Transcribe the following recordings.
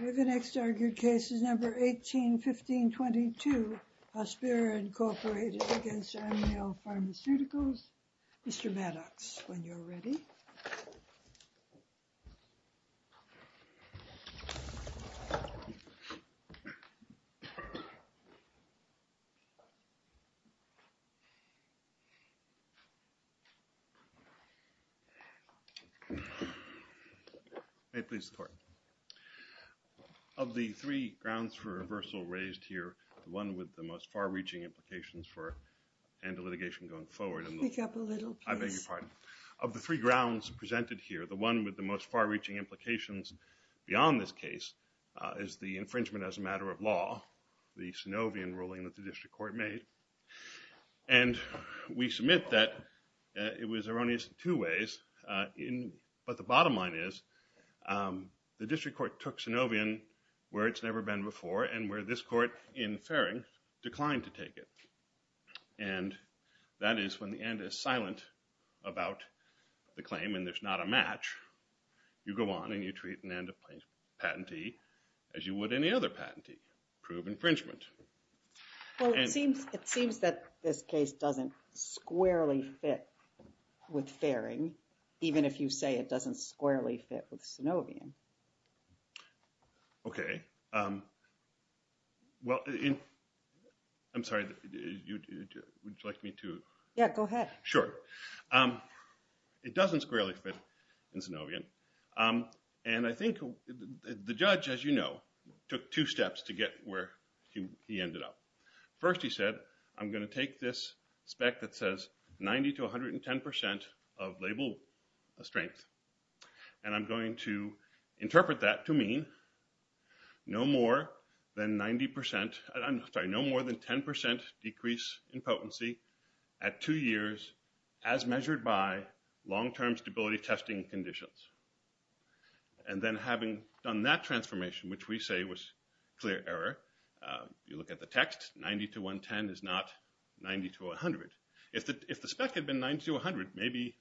Okay, the next argued case is number 18-15-22, Hospira Incorporated against Arnall Pharmaceuticals. Mr. Maddox, when you're ready. May it please the court. Of the three grounds for reversal raised here, one with the most far-reaching implications for end of litigation going forward, I beg your pardon. Of the three grounds presented here, the one with the most far-reaching implications beyond this case is the infringement as a matter of law, the Synovian ruling that the district court made. And we submit that it was erroneous in two ways, but the bottom line is the district court took Synovian where it's never been before and where this court in Farring declined to take it. And that is when the end is silent about the claim and there's not a match, you go on and you treat an end of patentee as you would any other patentee. Prove infringement. Well, it seems that this case doesn't squarely fit with Farring, even if you say it doesn't squarely fit with Synovian. Okay, well, I'm sorry, would you like me to? Yeah, go ahead. Sure, it doesn't squarely fit in Synovian, and I think the judge, as you know, took two steps to get where he ended up. First, he said, I'm gonna take this spec that says 90 to 110% of label strength. And I'm going to interpret that to mean no more than 90%, I'm sorry, no more than 10% decrease in potency at two years as measured by long-term stability testing conditions. And then having done that transformation, which we say was clear error, you look at the text, 90 to 110 is not 90 to 100. If the spec had been 90 to 100, maybe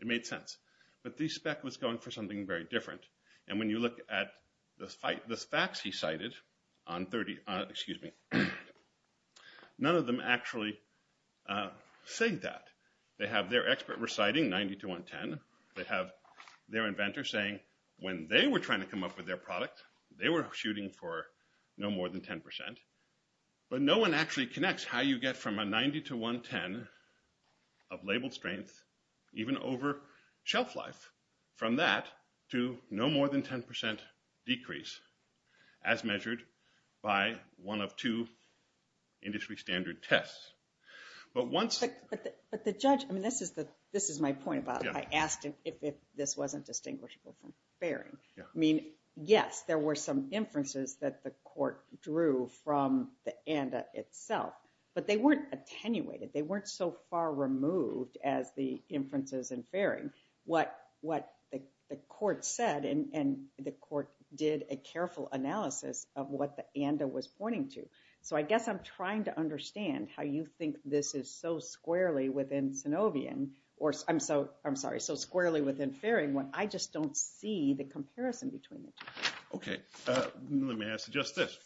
it made sense. But the spec was going for something very different. And when you look at this fax he cited, none of them actually say that. They have their expert reciting 90 to 110, they have their inventor saying, when they were trying to come up with their product, they were shooting for no more than 10%. But no one actually connects how you get from a 90 to 110 of label strength, even over shelf life, from that to no more than 10% decrease, as measured by one of two industry standard tests. But once- But the judge, I mean, this is my point about it. I asked him if this wasn't distinguishable from fairing. I mean, yes, there were some inferences that the court drew from the ANDA itself. But they weren't attenuated. They weren't so far removed as the inferences in fairing. What the court said, and the court did a careful analysis of what the ANDA was pointing to. So I guess I'm trying to understand how you think this is so squarely within Sinovian, or I'm sorry, so squarely within fairing, when I just don't see the comparison between the two. OK, let me ask you just this.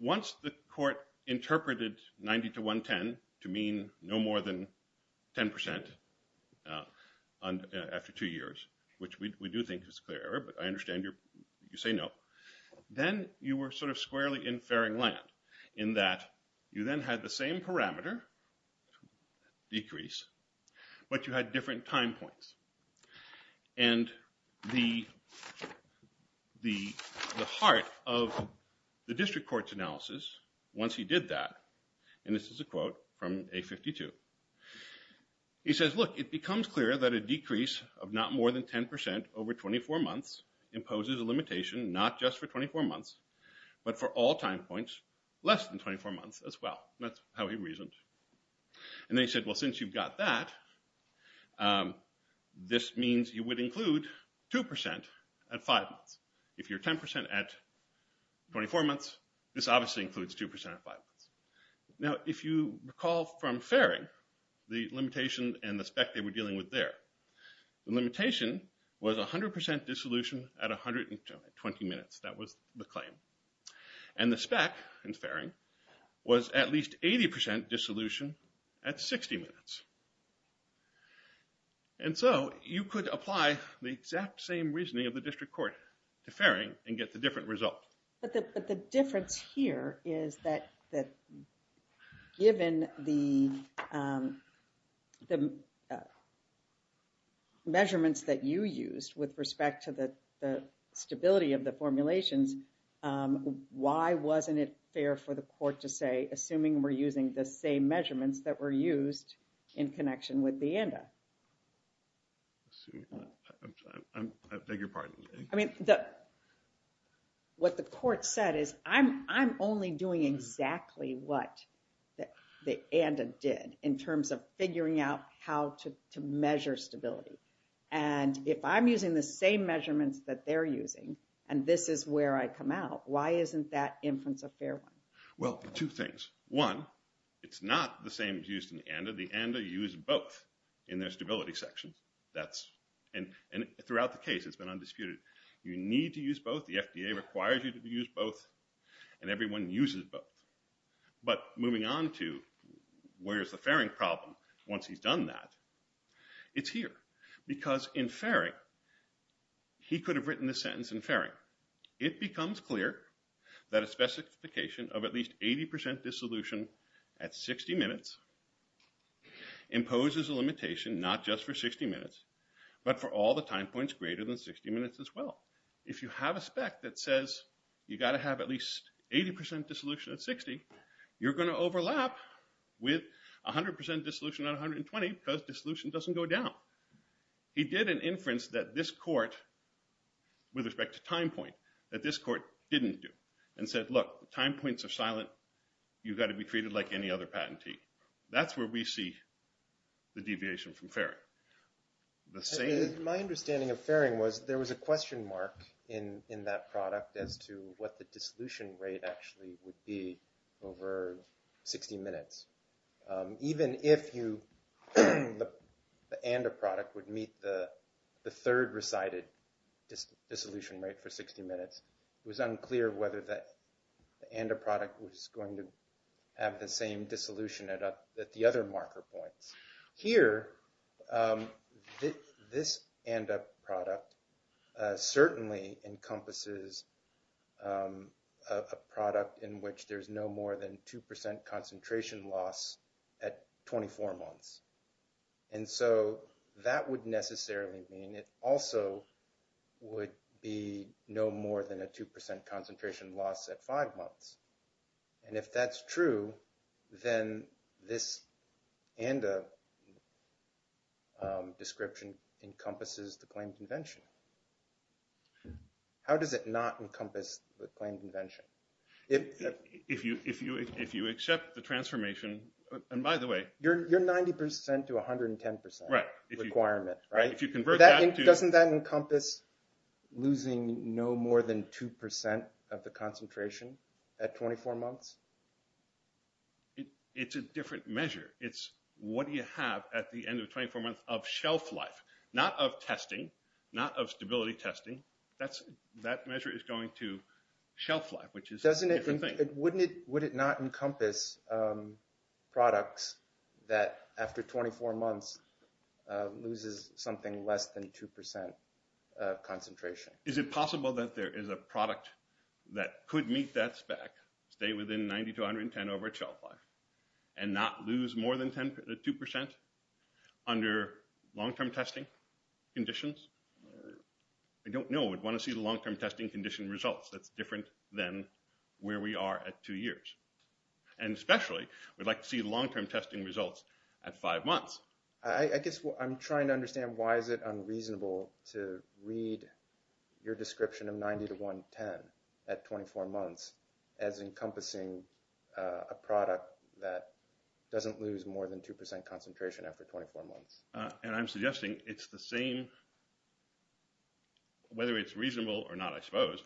Once the court interpreted 90 to 110 to mean no more than 10% after two years, which we do think is a clear error, but I understand you say no. Then you were sort of squarely in fairing land, in that you then had the same parameter decrease, but you had different time points. And the heart of the district court's analysis, once he did that, and this is a quote from A52. He says, look, it becomes clear that a decrease of not more than 10% over 24 months imposes a limitation not just for 24 months, but for all time points less than 24 months as well. That's how he reasoned. And they said, well, since you've got that, this means you would include 2% at five months. If you're 10% at 24 months, this obviously includes 2% at five months. Now, if you recall from fairing, the limitation and the spec they were dealing with there, the limitation was 100% dissolution at 120 minutes. That was the claim. And the spec in fairing was at least 80% dissolution at 60 minutes. And so you could apply the exact same reasoning of the district court to fairing and get the different result. But the difference here is that given the measurements that you used with respect to the stability of the formulations, why wasn't it fair for the court to say, assuming we're using the same measurements that were used in connection with the ANDA? Let's see. I beg your pardon. I mean, what the court said is, I'm only doing exactly what the ANDA did in terms of figuring out how to measure stability. And if I'm using the same measurements that they're using, and this is where I come out, why isn't that inference a fair one? Well, two things. One, it's not the same as used in the ANDA. The ANDA used both in their stability section. And throughout the case, it's been undisputed. You need to use both. The FDA requires you to use both. And everyone uses both. But moving on to where's the fairing problem? Once he's done that, it's here. Because in fairing, he could have written the sentence in fairing. It becomes clear that a specification of at least 80% dissolution at 60 minutes imposes a limitation not just for 60 minutes, but for all the time points greater than 60 minutes as well. If you have a spec that says, you've got to have at least 80% dissolution at 60, you're going to overlap with 100% dissolution at 120, because dissolution doesn't go down. He did an inference that this court, with respect to time point, that this court didn't do. And said, look, time points are silent. You've got to be treated like any other patentee. That's where we see the deviation from fairing. My understanding of fairing was there was a question mark in that product as to what the dissolution rate actually would be over 60 minutes. Even if the ANDA product would meet the third recited dissolution rate for 60 minutes, it was unclear whether the ANDA product was going to have the same dissolution at the other marker points. Here, this ANDA product certainly encompasses a product in which there's no more than 2% concentration loss at 24 months. And so that would necessarily mean it also would be no more than a 2% concentration loss at five months. And if that's true, then this ANDA description encompasses the claimed invention. How does it not encompass the claimed invention? If you accept the transformation, and by the way, You're 90% to 110% requirement, right? If you convert that to Doesn't that encompass losing no more than 2% of the concentration at 24 months? It's a different measure. It's what do you have at the end of 24 months of shelf life, not of testing, not of stability testing. That measure is going to shelf life, which is a different thing. Would it not encompass products that, after 24 months, loses something less than 2% concentration? Is it possible that there is a product that could meet that spec, stay within 90% to 110% of our shelf life, and not lose more than 2% under long-term testing conditions? I don't know. We'd want to see the long-term testing condition results. That's different than where we are at two years. And especially, we'd like to see long-term testing results at five months. I guess I'm trying to understand why is it unreasonable to read your description of 90 to 110 at 24 months as encompassing a product that doesn't lose more than 2% concentration after 24 months? And I'm suggesting it's the same, whether it's reasonable or not, I suppose,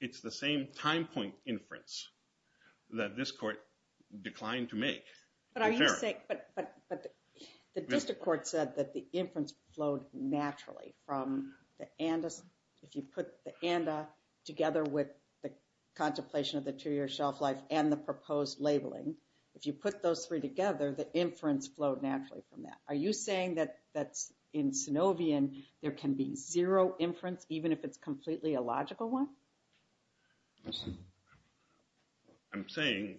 it's the same time point inference that this court declined to make. But are you saying, but the district court said that the inference flowed naturally from the ANDA. If you put the ANDA together with the contemplation of the two-year shelf life and the proposed labeling, if you put those three together, the inference flowed naturally from that. Are you saying that in Synovian, there can be zero inference, even if it's completely a logical one? I'm saying,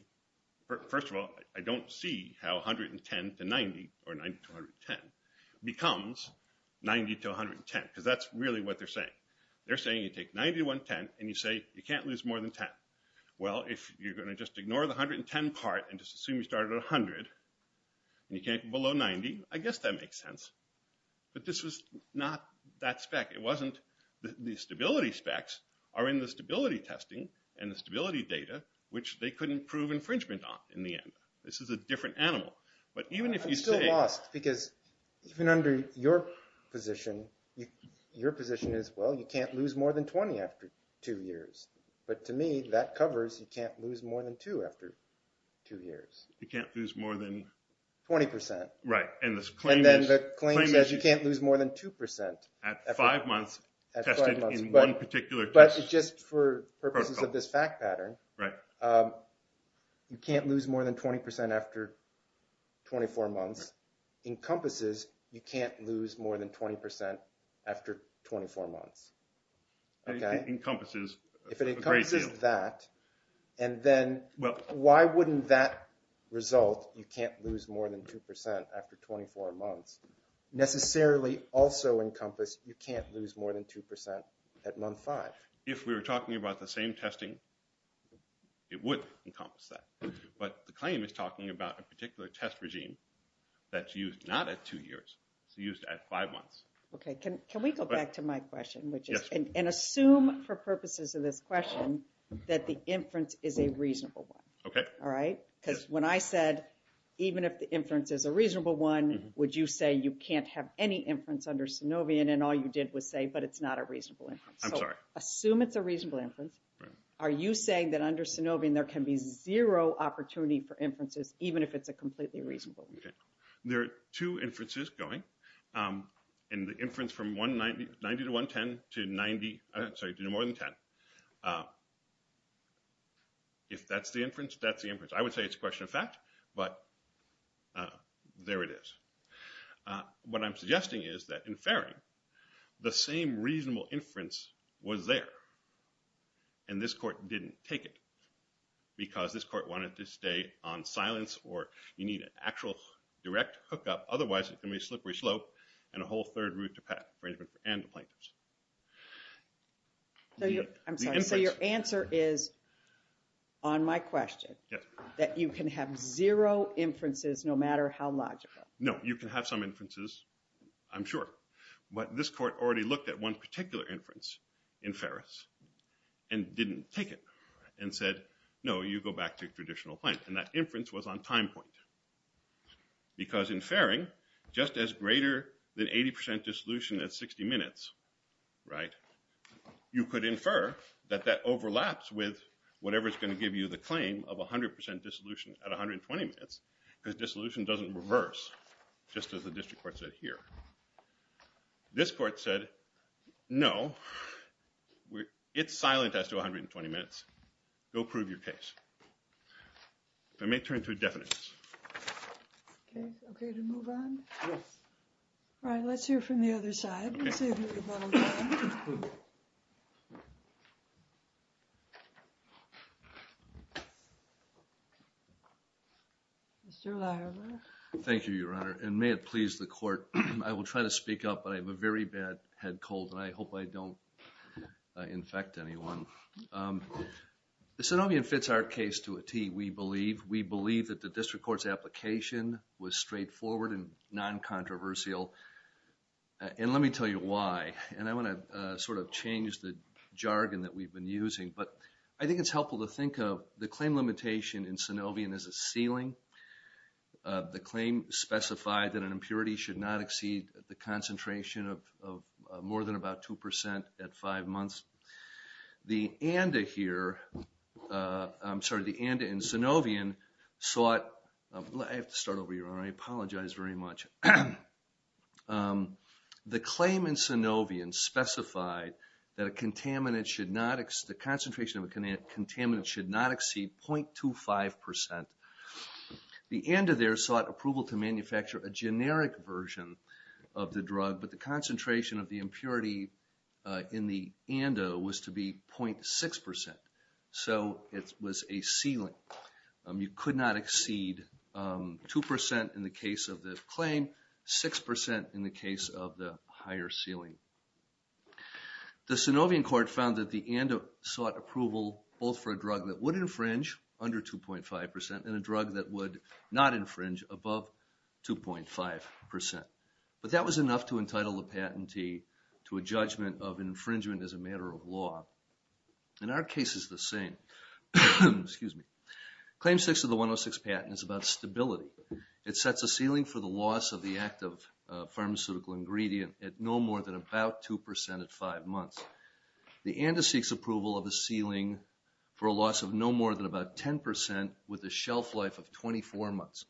first of all, I don't see how 110 to 90, or 90 to 110, becomes 90 to 110. Because that's really what they're saying. They're saying you take 90 to 110, and you say you can't lose more than 10. Well, if you're going to just ignore the 110 part and just assume you started at 100, and you can't go below 90, I guess that makes sense. But this was not that spec. It wasn't the stability specs are in the stability testing and the stability data, which they couldn't prove infringement on in the end. This is a different animal. But even if you say- I'm still lost, because even under your position, your position is, well, you can't lose more than 20 after two years. But to me, that covers, you can't lose more than two after two years. You can't lose more than? 20%. Right. And then the claim says you can't lose more than 2% at five months tested in one particular test. But just for purposes of this fact pattern, you can't lose more than 20% after 24 months encompasses, you can't lose more than 20% after 24 months. It encompasses a great deal. If it encompasses that, and then why wouldn't that result, you can't lose more than 2% after 24 months, necessarily also encompass you can't lose more than 2% at month five? If we were talking about the same testing, it would encompass that. But the claim is talking about a particular test regime that's used not at two years, it's used at five months. OK, can we go back to my question, and assume for purposes of this question that the inference is a reasonable one. All right? Because when I said, even if the inference is a reasonable one, would you say you can't have any inference under Synovian, and all you did was say, but it's not a reasonable inference. Assume it's a reasonable inference. Are you saying that under Synovian there can be zero opportunity for inferences, even if it's a completely reasonable one? There are two inferences going, and the inference from 90 to 110 to 90, I'm sorry, to more than 10. If that's the inference, that's the inference. I would say it's a question of fact, but there it is. What I'm suggesting is that in Faring, the same reasonable inference was there, and this court didn't take it. Because this court wanted to stay on silence, or you need an actual direct hookup. Otherwise, it can be a slippery slope, and a whole third route to path arrangement and to plaintiffs. I'm sorry. So your answer is, on my question, that you can have zero inferences no matter how logical? No, you can have some inferences, I'm sure. But this court already looked at one particular inference in Fares, and didn't take it, and said, no, you go back to traditional plaintiffs. And that inference was on time point. Because in Faring, just as greater than 80% dissolution at 60 minutes, you could infer that that overlaps with whatever is going to give you the claim of 100% dissolution at 120 minutes, because dissolution doesn't reverse, just as the district court said here. This court said, no, it's silent as to 120 minutes. Go prove your case. I may turn to a definite case. OK. OK to move on? Yes. All right. Let's hear from the other side. Let's hear from the bottom side. Mr. Leiber. Thank you, Your Honor. And may it please the court, I will try to speak up, but I have a very bad head cold, and I The Synovian fits our case to a T, we believe. We believe that the district court's application was straightforward and non-controversial. And let me tell you why. And I want to sort of change the jargon that we've been using. But I think it's helpful to think of the claim limitation in Synovian as a ceiling. The claim specified that an impurity should not exceed the concentration of more than about 2% at five months. The ANDA here, I'm sorry, the ANDA in Synovian sought, I have to start over, Your Honor. I apologize very much. The claim in Synovian specified that the concentration of a contaminant should not exceed 0.25%. The ANDA there sought approval to manufacture a generic version of the drug, but the concentration of the impurity in the ANDA was to be 0.6%. So it was a ceiling. You could not exceed 2% in the case of the claim, 6% in the case of the higher ceiling. The Synovian court found that the ANDA sought approval both for a drug that would infringe under 2.5% and a drug that would not infringe above 2.5%. But that was enough to entitle the patentee to a judgment of infringement as a matter of law. In our case, it's the same. Claim six of the 106 patent is about stability. It sets a ceiling for the loss of the active pharmaceutical ingredient at no more than about 2% at five months. The ANDA seeks approval of a ceiling for a loss of no more than about 10% with a shelf life of 24 months.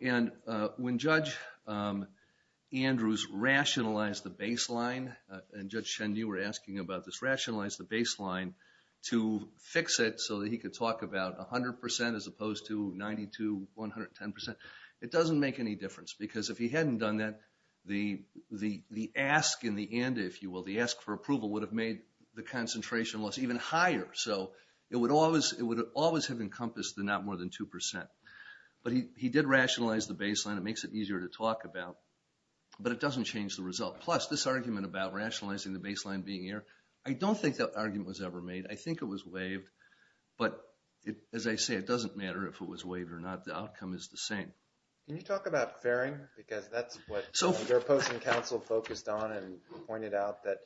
And when Judge Andrews rationalized the baseline, and Judge Cheney, you were asking about this, rationalized the baseline to fix it so that he could talk about 100% as opposed to 92, 110%, it doesn't make any difference. Because if he hadn't done that, the ask in the ANDA, if you will, the ask for approval would have made the concentration loss even higher. So it would always have encompassed the not more than 2%. But he did rationalize the baseline. It makes it easier to talk about. But it doesn't change the result. Plus, this argument about rationalizing the baseline being here, I don't think that argument was ever made. I think it was waived. But as I say, it doesn't matter if it was waived or not. The outcome is the same. Can you talk about fairing? Because that's what your opposing counsel focused on and pointed out that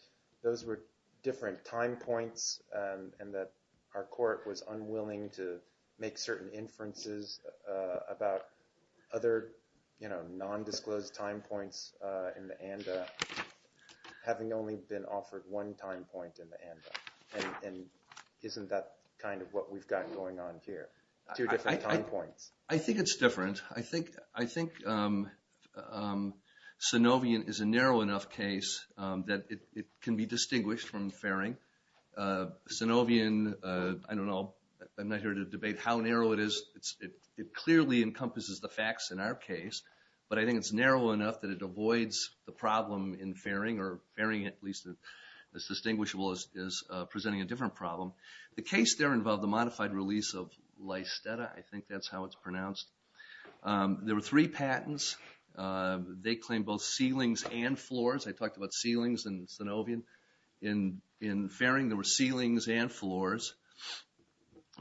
those were different time points and that our court was unwilling to make certain inferences about other non-disclosed time points in the ANDA having only been offered one time point in the ANDA. And isn't that kind of what we've got going on here? Two different time points. I think it's different. I think Sanovian is a narrow enough case that it can be distinguished from fairing. Sanovian, I don't know. I'm not here to debate how narrow it is. It clearly encompasses the facts in our case. But I think it's narrow enough that it avoids the problem in fairing, or fairing at least as distinguishable as presenting a different problem. The case there involved the modified release of Lysteta. I think that's how it's pronounced. There were three patents. They claimed both ceilings and floors. I talked about ceilings in Sanovian. In fairing, there were ceilings and floors.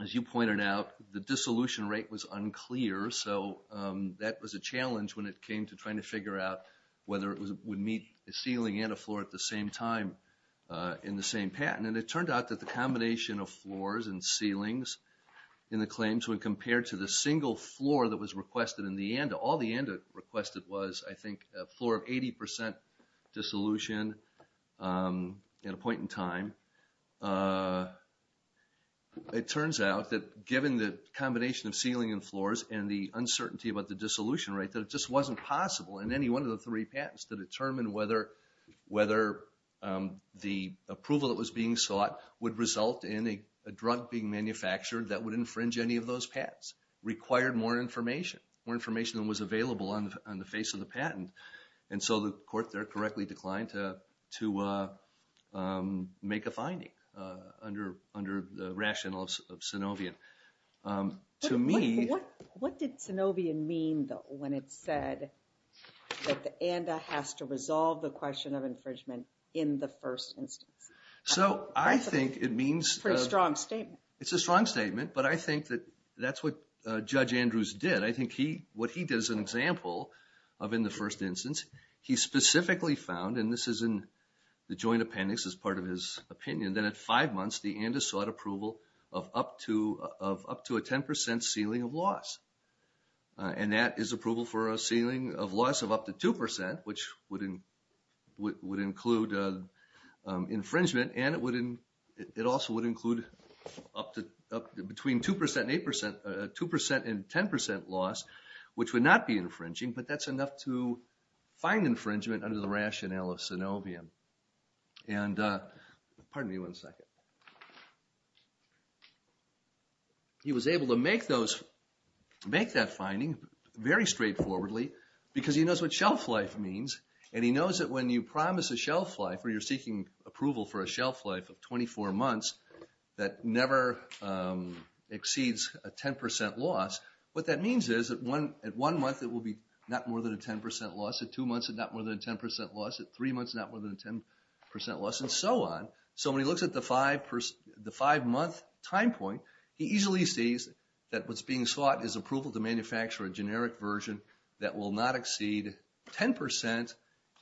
As you pointed out, the dissolution rate was unclear. So that was a challenge when it came to trying to figure out whether it would meet a ceiling and a floor at the same time in the same patent. And it turned out that the combination of floors and ceilings in the claims, when compared to the single floor that was requested in the ANDA, all the ANDA requested was, I think, a floor of 80% dissolution. At a point in time. It turns out that given the combination of ceiling and floors, and the uncertainty about the dissolution rate, that it just wasn't possible in any one of the three patents to determine whether the approval that was being sought would result in a drug being manufactured that would infringe any of those patents. Required more information. More information than was available on the face of the patent. And so the court there correctly declined to make a finding under the rationale of Synovian. To me... What did Synovian mean, though, when it said that the ANDA has to resolve the question of infringement in the first instance? So I think it means... Pretty strong statement. It's a strong statement, but I think that that's what Judge Andrews did. I think what he did as an example of in the first instance, he specifically found, and this is in the joint appendix as part of his opinion, that at five months, the ANDA sought approval of up to a 10% ceiling of loss. And that is approval for a ceiling of loss of up to 2%, which would include infringement, and it also would include between 2% and 10% loss, which would not be infringing, but that's enough to find infringement under the rationale of Synovian. And... Pardon me one second. He was able to make that finding very straightforwardly because he knows what shelf life means, and he knows that when you promise a shelf life, or you're seeking approval for a shelf life of 24 months, that never exceeds a 10% loss, what that means is that at one month, it will be not more than a 10% loss, at two months, not more than a 10% loss, at three months, not more than a 10% loss, and so on. So when he looks at the five-month time point, he easily sees that what's being sought is approval to manufacture a generic version that will not exceed 10%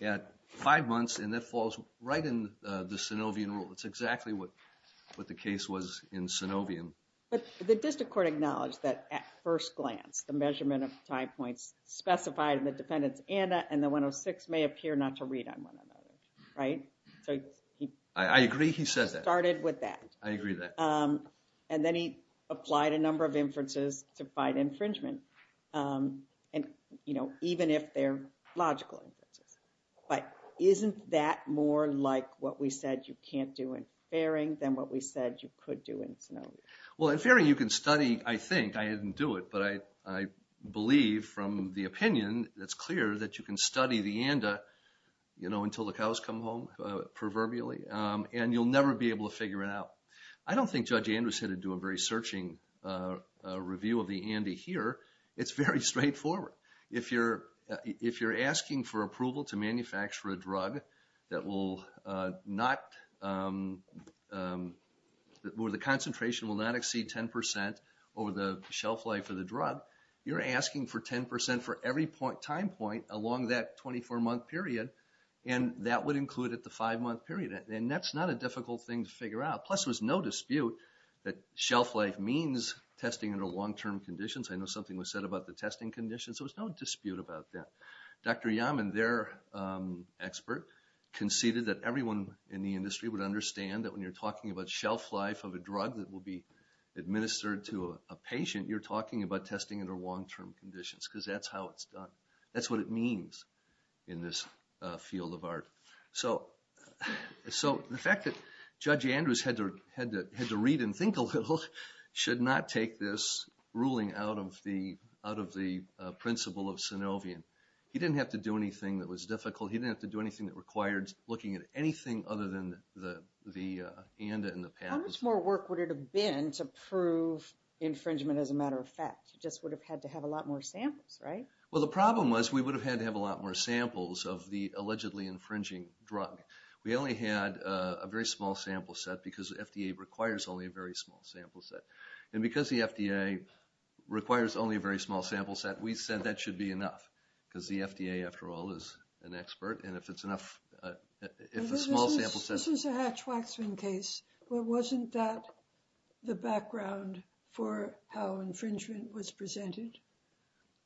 at five months, and that falls right in the Synovian rule. That's exactly what the case was in Synovian. But the district court acknowledged that at first glance, the measurement of time points specified in the defendant's ANA and the 106 may appear not to read on one another, right? So he... I agree he says that. Started with that. I agree with that. And then he applied a number of inferences to fight infringement, and even if they're logical inferences. But isn't that more like what we said you can't do in Faring than what we said you could do in Synovian? Well, in Faring, you can study, I think, I didn't do it, but I believe from the opinion that's clear that you can study the ANDA until the cows come home, proverbially, and you'll never be able to figure it out. I don't think Judge Andrews had to do a very searching review of the ANDA here. It's very straightforward. If you're asking for approval to manufacture a drug that will not... Where the concentration will not exceed 10% over the shelf life of the drug, you're asking for 10% for every time point along that 24-month period, and that would include at the five-month period. And that's not a difficult thing to figure out. Plus, there was no dispute that shelf life means testing under long-term conditions. I know something was said about the testing conditions. There was no dispute about that. Dr. Yaman, their expert, would understand that when you're talking about shelf life of a drug that will be administered to a patient, you're talking about testing under long-term conditions, because that's how it's done. That's what it means in this field of art. So the fact that Judge Andrews had to read and think a little should not take this ruling out of the principle of Synovian. He didn't have to do anything that was difficult. He didn't have to do anything that required looking at anything other than the ANDA and the patent. How much more work would it have been to prove infringement as a matter of fact? You just would have had to have a lot more samples, right? Well, the problem was we would have had to have a lot more samples of the allegedly infringing drug. We only had a very small sample set because FDA requires only a very small sample set. And because the FDA requires only a very small sample set, we said that should be enough, because the FDA, after all, is an expert. And if it's enough, if a small sample set- This is a Hatch-Waxman case, but wasn't that the background for how infringement was presented?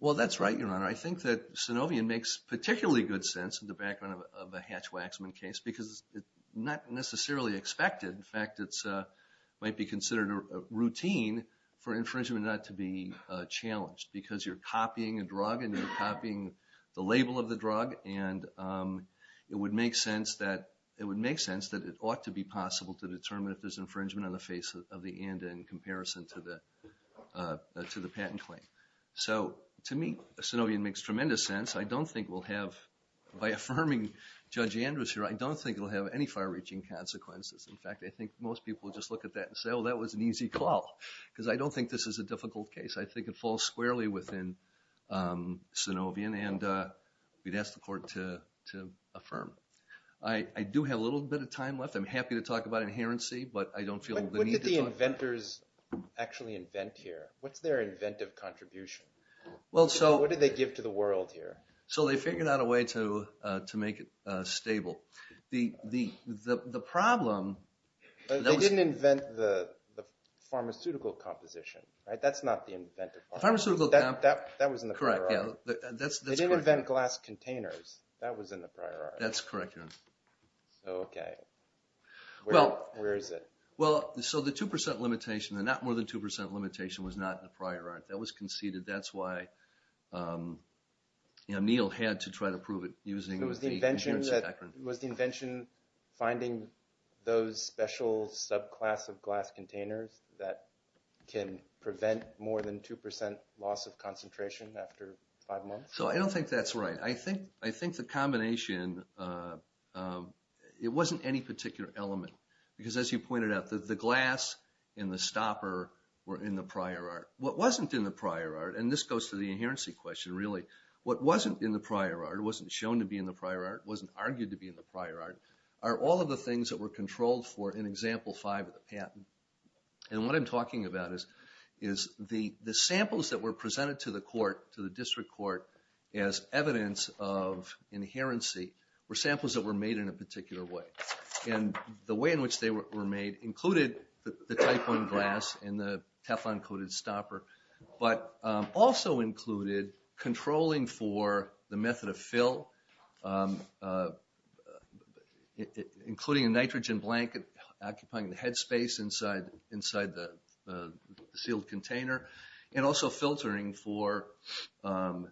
Well, that's right, Your Honor. I think that Synovian makes particularly good sense in the background of a Hatch-Waxman case because it's not necessarily expected. In fact, it might be considered a routine for infringement not to be challenged because you're copying a drug and you're copying the label of the drug. And it would make sense that it ought to be possible to determine if there's infringement on the face of the ANDA in comparison to the patent claim. So to me, Synovian makes tremendous sense. I don't think we'll have, by affirming Judge Andrews here, I don't think it'll have any far-reaching consequences. In fact, I think most people will just look at that and say, oh, that was an easy call, because I don't think this is a difficult case. I think it falls squarely within Synovian. And we'd ask the court to affirm. I do have a little bit of time left. I'm happy to talk about inherency, but I don't feel the need to talk. But what did the inventors actually invent here? What's their inventive contribution? Well, so. What did they give to the world here? So they figured out a way to make it stable. The problem, that was. They didn't invent the pharmaceutical composition, right? That's not the inventive part. Pharmaceutical composition. That was in the priority. They didn't invent glass containers. That was in the priority. That's correct, yeah. Okay. Where is it? Well, so the 2% limitation, the not more than 2% limitation was not in the priority. That was conceded. That's why, you know, Neil had to try to prove it using the inherency doctrine. of glass containers that can prevent more than 2% loss of concentration after five months? So I don't think that's right. I think the combination, it wasn't any particular element. Because as you pointed out, the glass and the stopper were in the prior art. What wasn't in the prior art, and this goes to the inherency question, really, what wasn't in the prior art, wasn't shown to be in the prior art, wasn't argued to be in the prior art, are all of the things that were controlled for in example five of the patent. And what I'm talking about is the samples that were presented to the court, to the district court as evidence of inherency were samples that were made in a particular way. And the way in which they were made included the type one glass and the Teflon coated stopper, but also included controlling for the method of fill, including a nitrogen blanket occupying the head space inside the sealed container, and also filtering for, pardon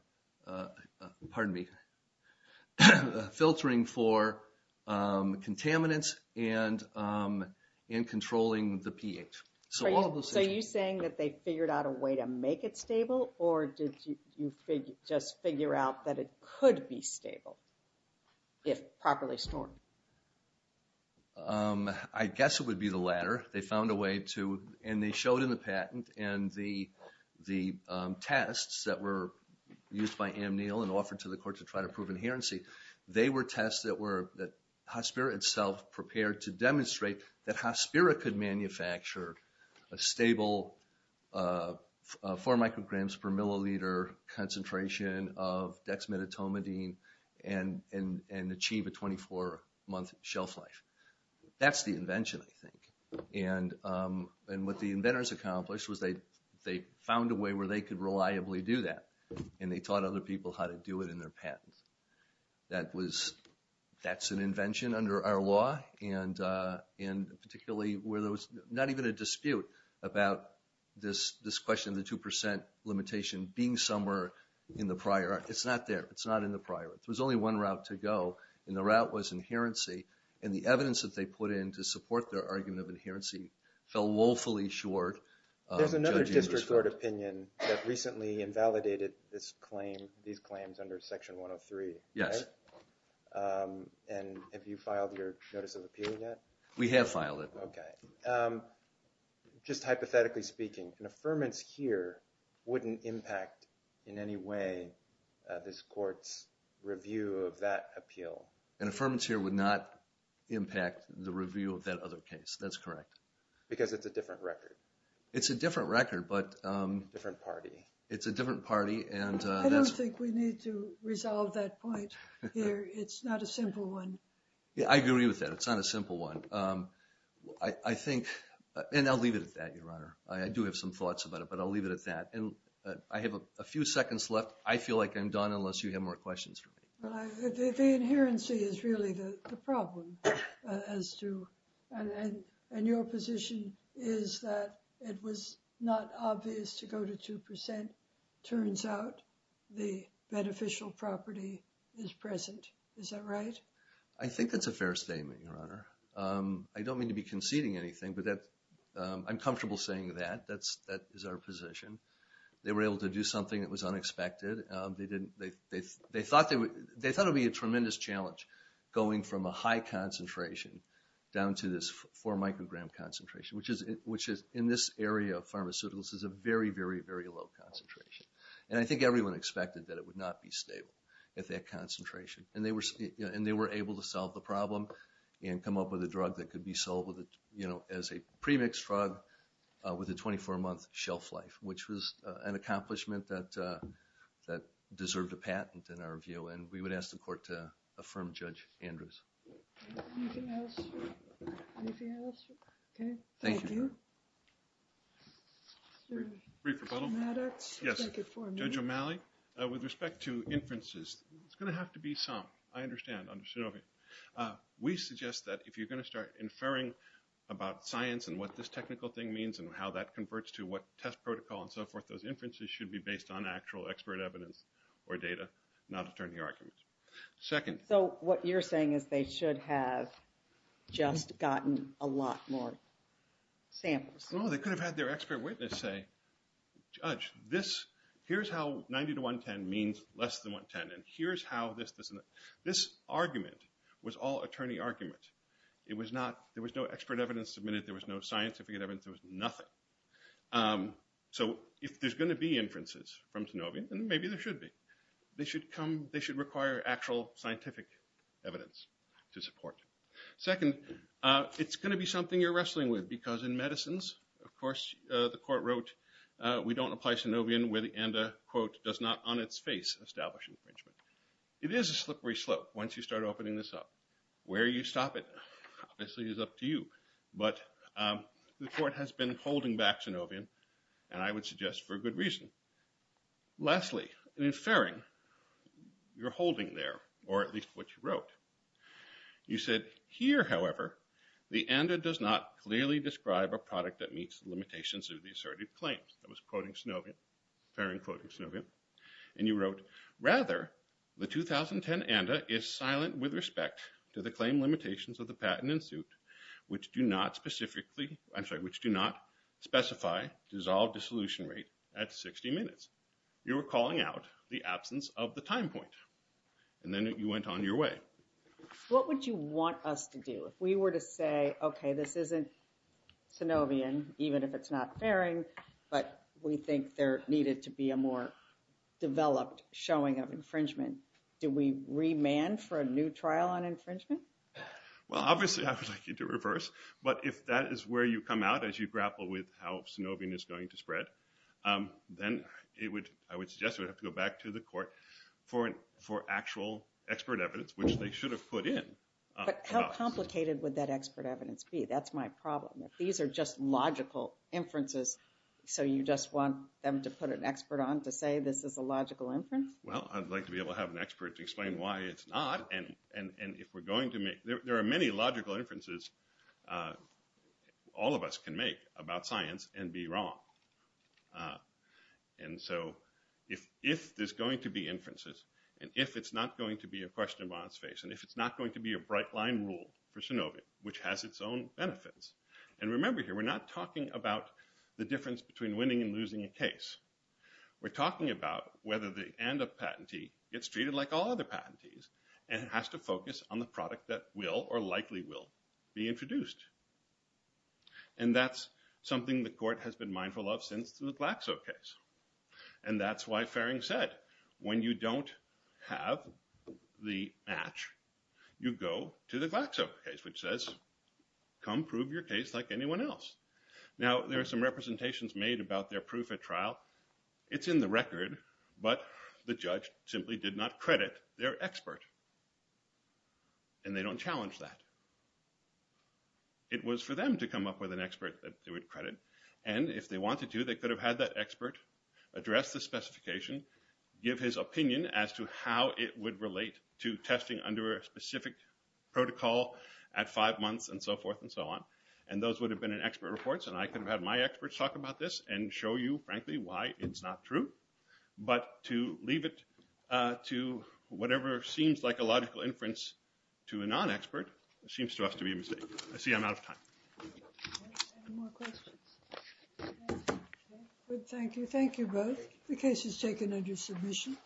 me, filtering for contaminants and controlling the pH. So all of those things. So are you saying that they figured out a way to make it stable, or did you just figure out that it could be stable if properly stored? I guess it would be the latter. They found a way to, and they showed in the patent, and the tests that were used by Amneal and offered to the court to try to prove inherency, they were tests that were, that Hospira itself prepared to demonstrate that Hospira could manufacture a stable four micrograms per milliliter concentration of dexmedetomidine and achieve a 24 month shelf life. That's the invention, I think. And what the inventors accomplished was they found a way where they could reliably do that, and they taught other people how to do it in their patents. That was, that's an invention under our law, and particularly where there was not even a dispute about this question of the 2% limitation being somewhere in the prior. It's not there, it's not in the prior. There was only one route to go, and the route was inherency, and the evidence that they put in to support their argument of inherency fell woefully short of judging this court. There's another district court opinion that recently invalidated this claim, these claims under section 103, right? Yes. And have you filed your notice of appeal yet? We have filed it. Okay. Just hypothetically speaking, an affirmance here wouldn't impact in any way this court's review of that appeal. An affirmance here would not impact the review of that other case, that's correct. Because it's a different record. It's a different record, but... Different party. It's a different party, and that's... I don't think we need to resolve that point here. It's not a simple one. Yeah, I agree with that, it's not a simple one. I think, and I'll leave it at that, Your Honor. I do have some thoughts about it, but I'll leave it at that. And I have a few seconds left. I feel like I'm done unless you have more questions for me. The inherency is really the problem, as to, and your position is that it was not obvious to go to 2%. Turns out the beneficial property is present. Is that right? I think that's a fair statement, Your Honor. I don't mean to be conceding anything, but I'm comfortable saying that. That is our position. They were able to do something that was unexpected. They thought it would be a tremendous challenge going from a high concentration down to this four microgram concentration, which is, in this area of pharmaceuticals, is a very, very, very low concentration. And I think everyone expected that it would not be stable at that concentration. And they were able to solve the problem and come up with a drug that could be sold as a pre-mixed drug with a 24-month shelf life, which was an accomplishment that deserved a patent, in our view. And we would ask the court to affirm Judge Andrews. Anything else? Anything else? Okay, thank you. Brief rebuttal. Yes, Judge O'Malley. With respect to inferences, it's gonna have to be some, I understand, under Sanofi. We suggest that if you're gonna start inferring about science and what this technical thing means and how that converts to what test protocol and so forth, those inferences should be based on actual expert evidence or data, not attorney arguments. Second. So what you're saying is they should have just gotten a lot more samples. No, they could have had their expert witness say, Judge, this, here's how 90 to 110 means less than 110. And here's how this doesn't, this argument was all attorney argument. It was not, there was no expert evidence submitted. There was no scientific evidence. There was nothing. So if there's gonna be inferences from Sanofi, then maybe there should be. They should come, they should require actual scientific evidence to support. Second, it's gonna be something you're wrestling with because in medicines, of course, the court wrote, we don't apply Sanofi and a quote, does not on its face establish infringement. It is a slippery slope once you start opening this up. Where you stop it, obviously is up to you. But the court has been holding back Sanofi and I would suggest for good reason. Lastly, in Ferring, you're holding there or at least what you wrote. You said, here, however, the ANDA does not clearly describe a product that meets the limitations of the asserted claims. That was quoting Sanofi, Ferring quoting Sanofi. And you wrote, rather, the 2010 ANDA is silent with respect to the claim limitations of the patent and suit, which do not specifically, I'm sorry, which do not specify dissolved dissolution rate at 60 minutes. You were calling out the absence of the time point. And then you went on your way. What would you want us to do? If we were to say, okay, this isn't Sanofian, even if it's not Ferring, but we think there needed to be a more developed showing of infringement, do we remand for a new trial on infringement? Well, obviously, I would like you to reverse. But if that is where you come out as you grapple with how Sanofian is going to spread, then I would suggest we have to go back to the court for actual expert evidence, which they should have put in. But how complicated would that expert evidence be? That's my problem. These are just logical inferences. So you just want them to put an expert on to say this is a logical inference? Well, I'd like to be able to have an expert to explain why it's not. And if we're going to make, there are many logical inferences all of us can make about science and be wrong. And so if there's going to be inferences, and if it's not going to be a question of honest face, and if it's not going to be a bright-line rule for Sanofian, which has its own benefits. And remember here, we're not talking about the difference between winning and losing a case. We're talking about whether the end-up patentee gets treated like all other patentees and has to focus on the product that will or likely will be introduced. And that's something the court has been mindful of since the Glaxo case. And that's why Farring said, when you don't have the match, you go to the Glaxo case, which says, come prove your case like anyone else. Now, there are some representations made about their proof at trial. It's in the record, but the judge simply did not credit their expert. And they don't challenge that. It was for them to come up with an expert that they would credit. And if they wanted to, they could have had that expert address the specification, give his opinion as to how it would relate to testing under a specific protocol at five months and so forth and so on. And those would have been in expert reports, and I could have had my experts talk about this and show you, frankly, why it's not true. But to leave it to whatever seems like a logical inference to a non-expert seems to us to be a mistake. I see I'm out of time. Any more questions? Thank you. Thank you both. The case is taken under submission.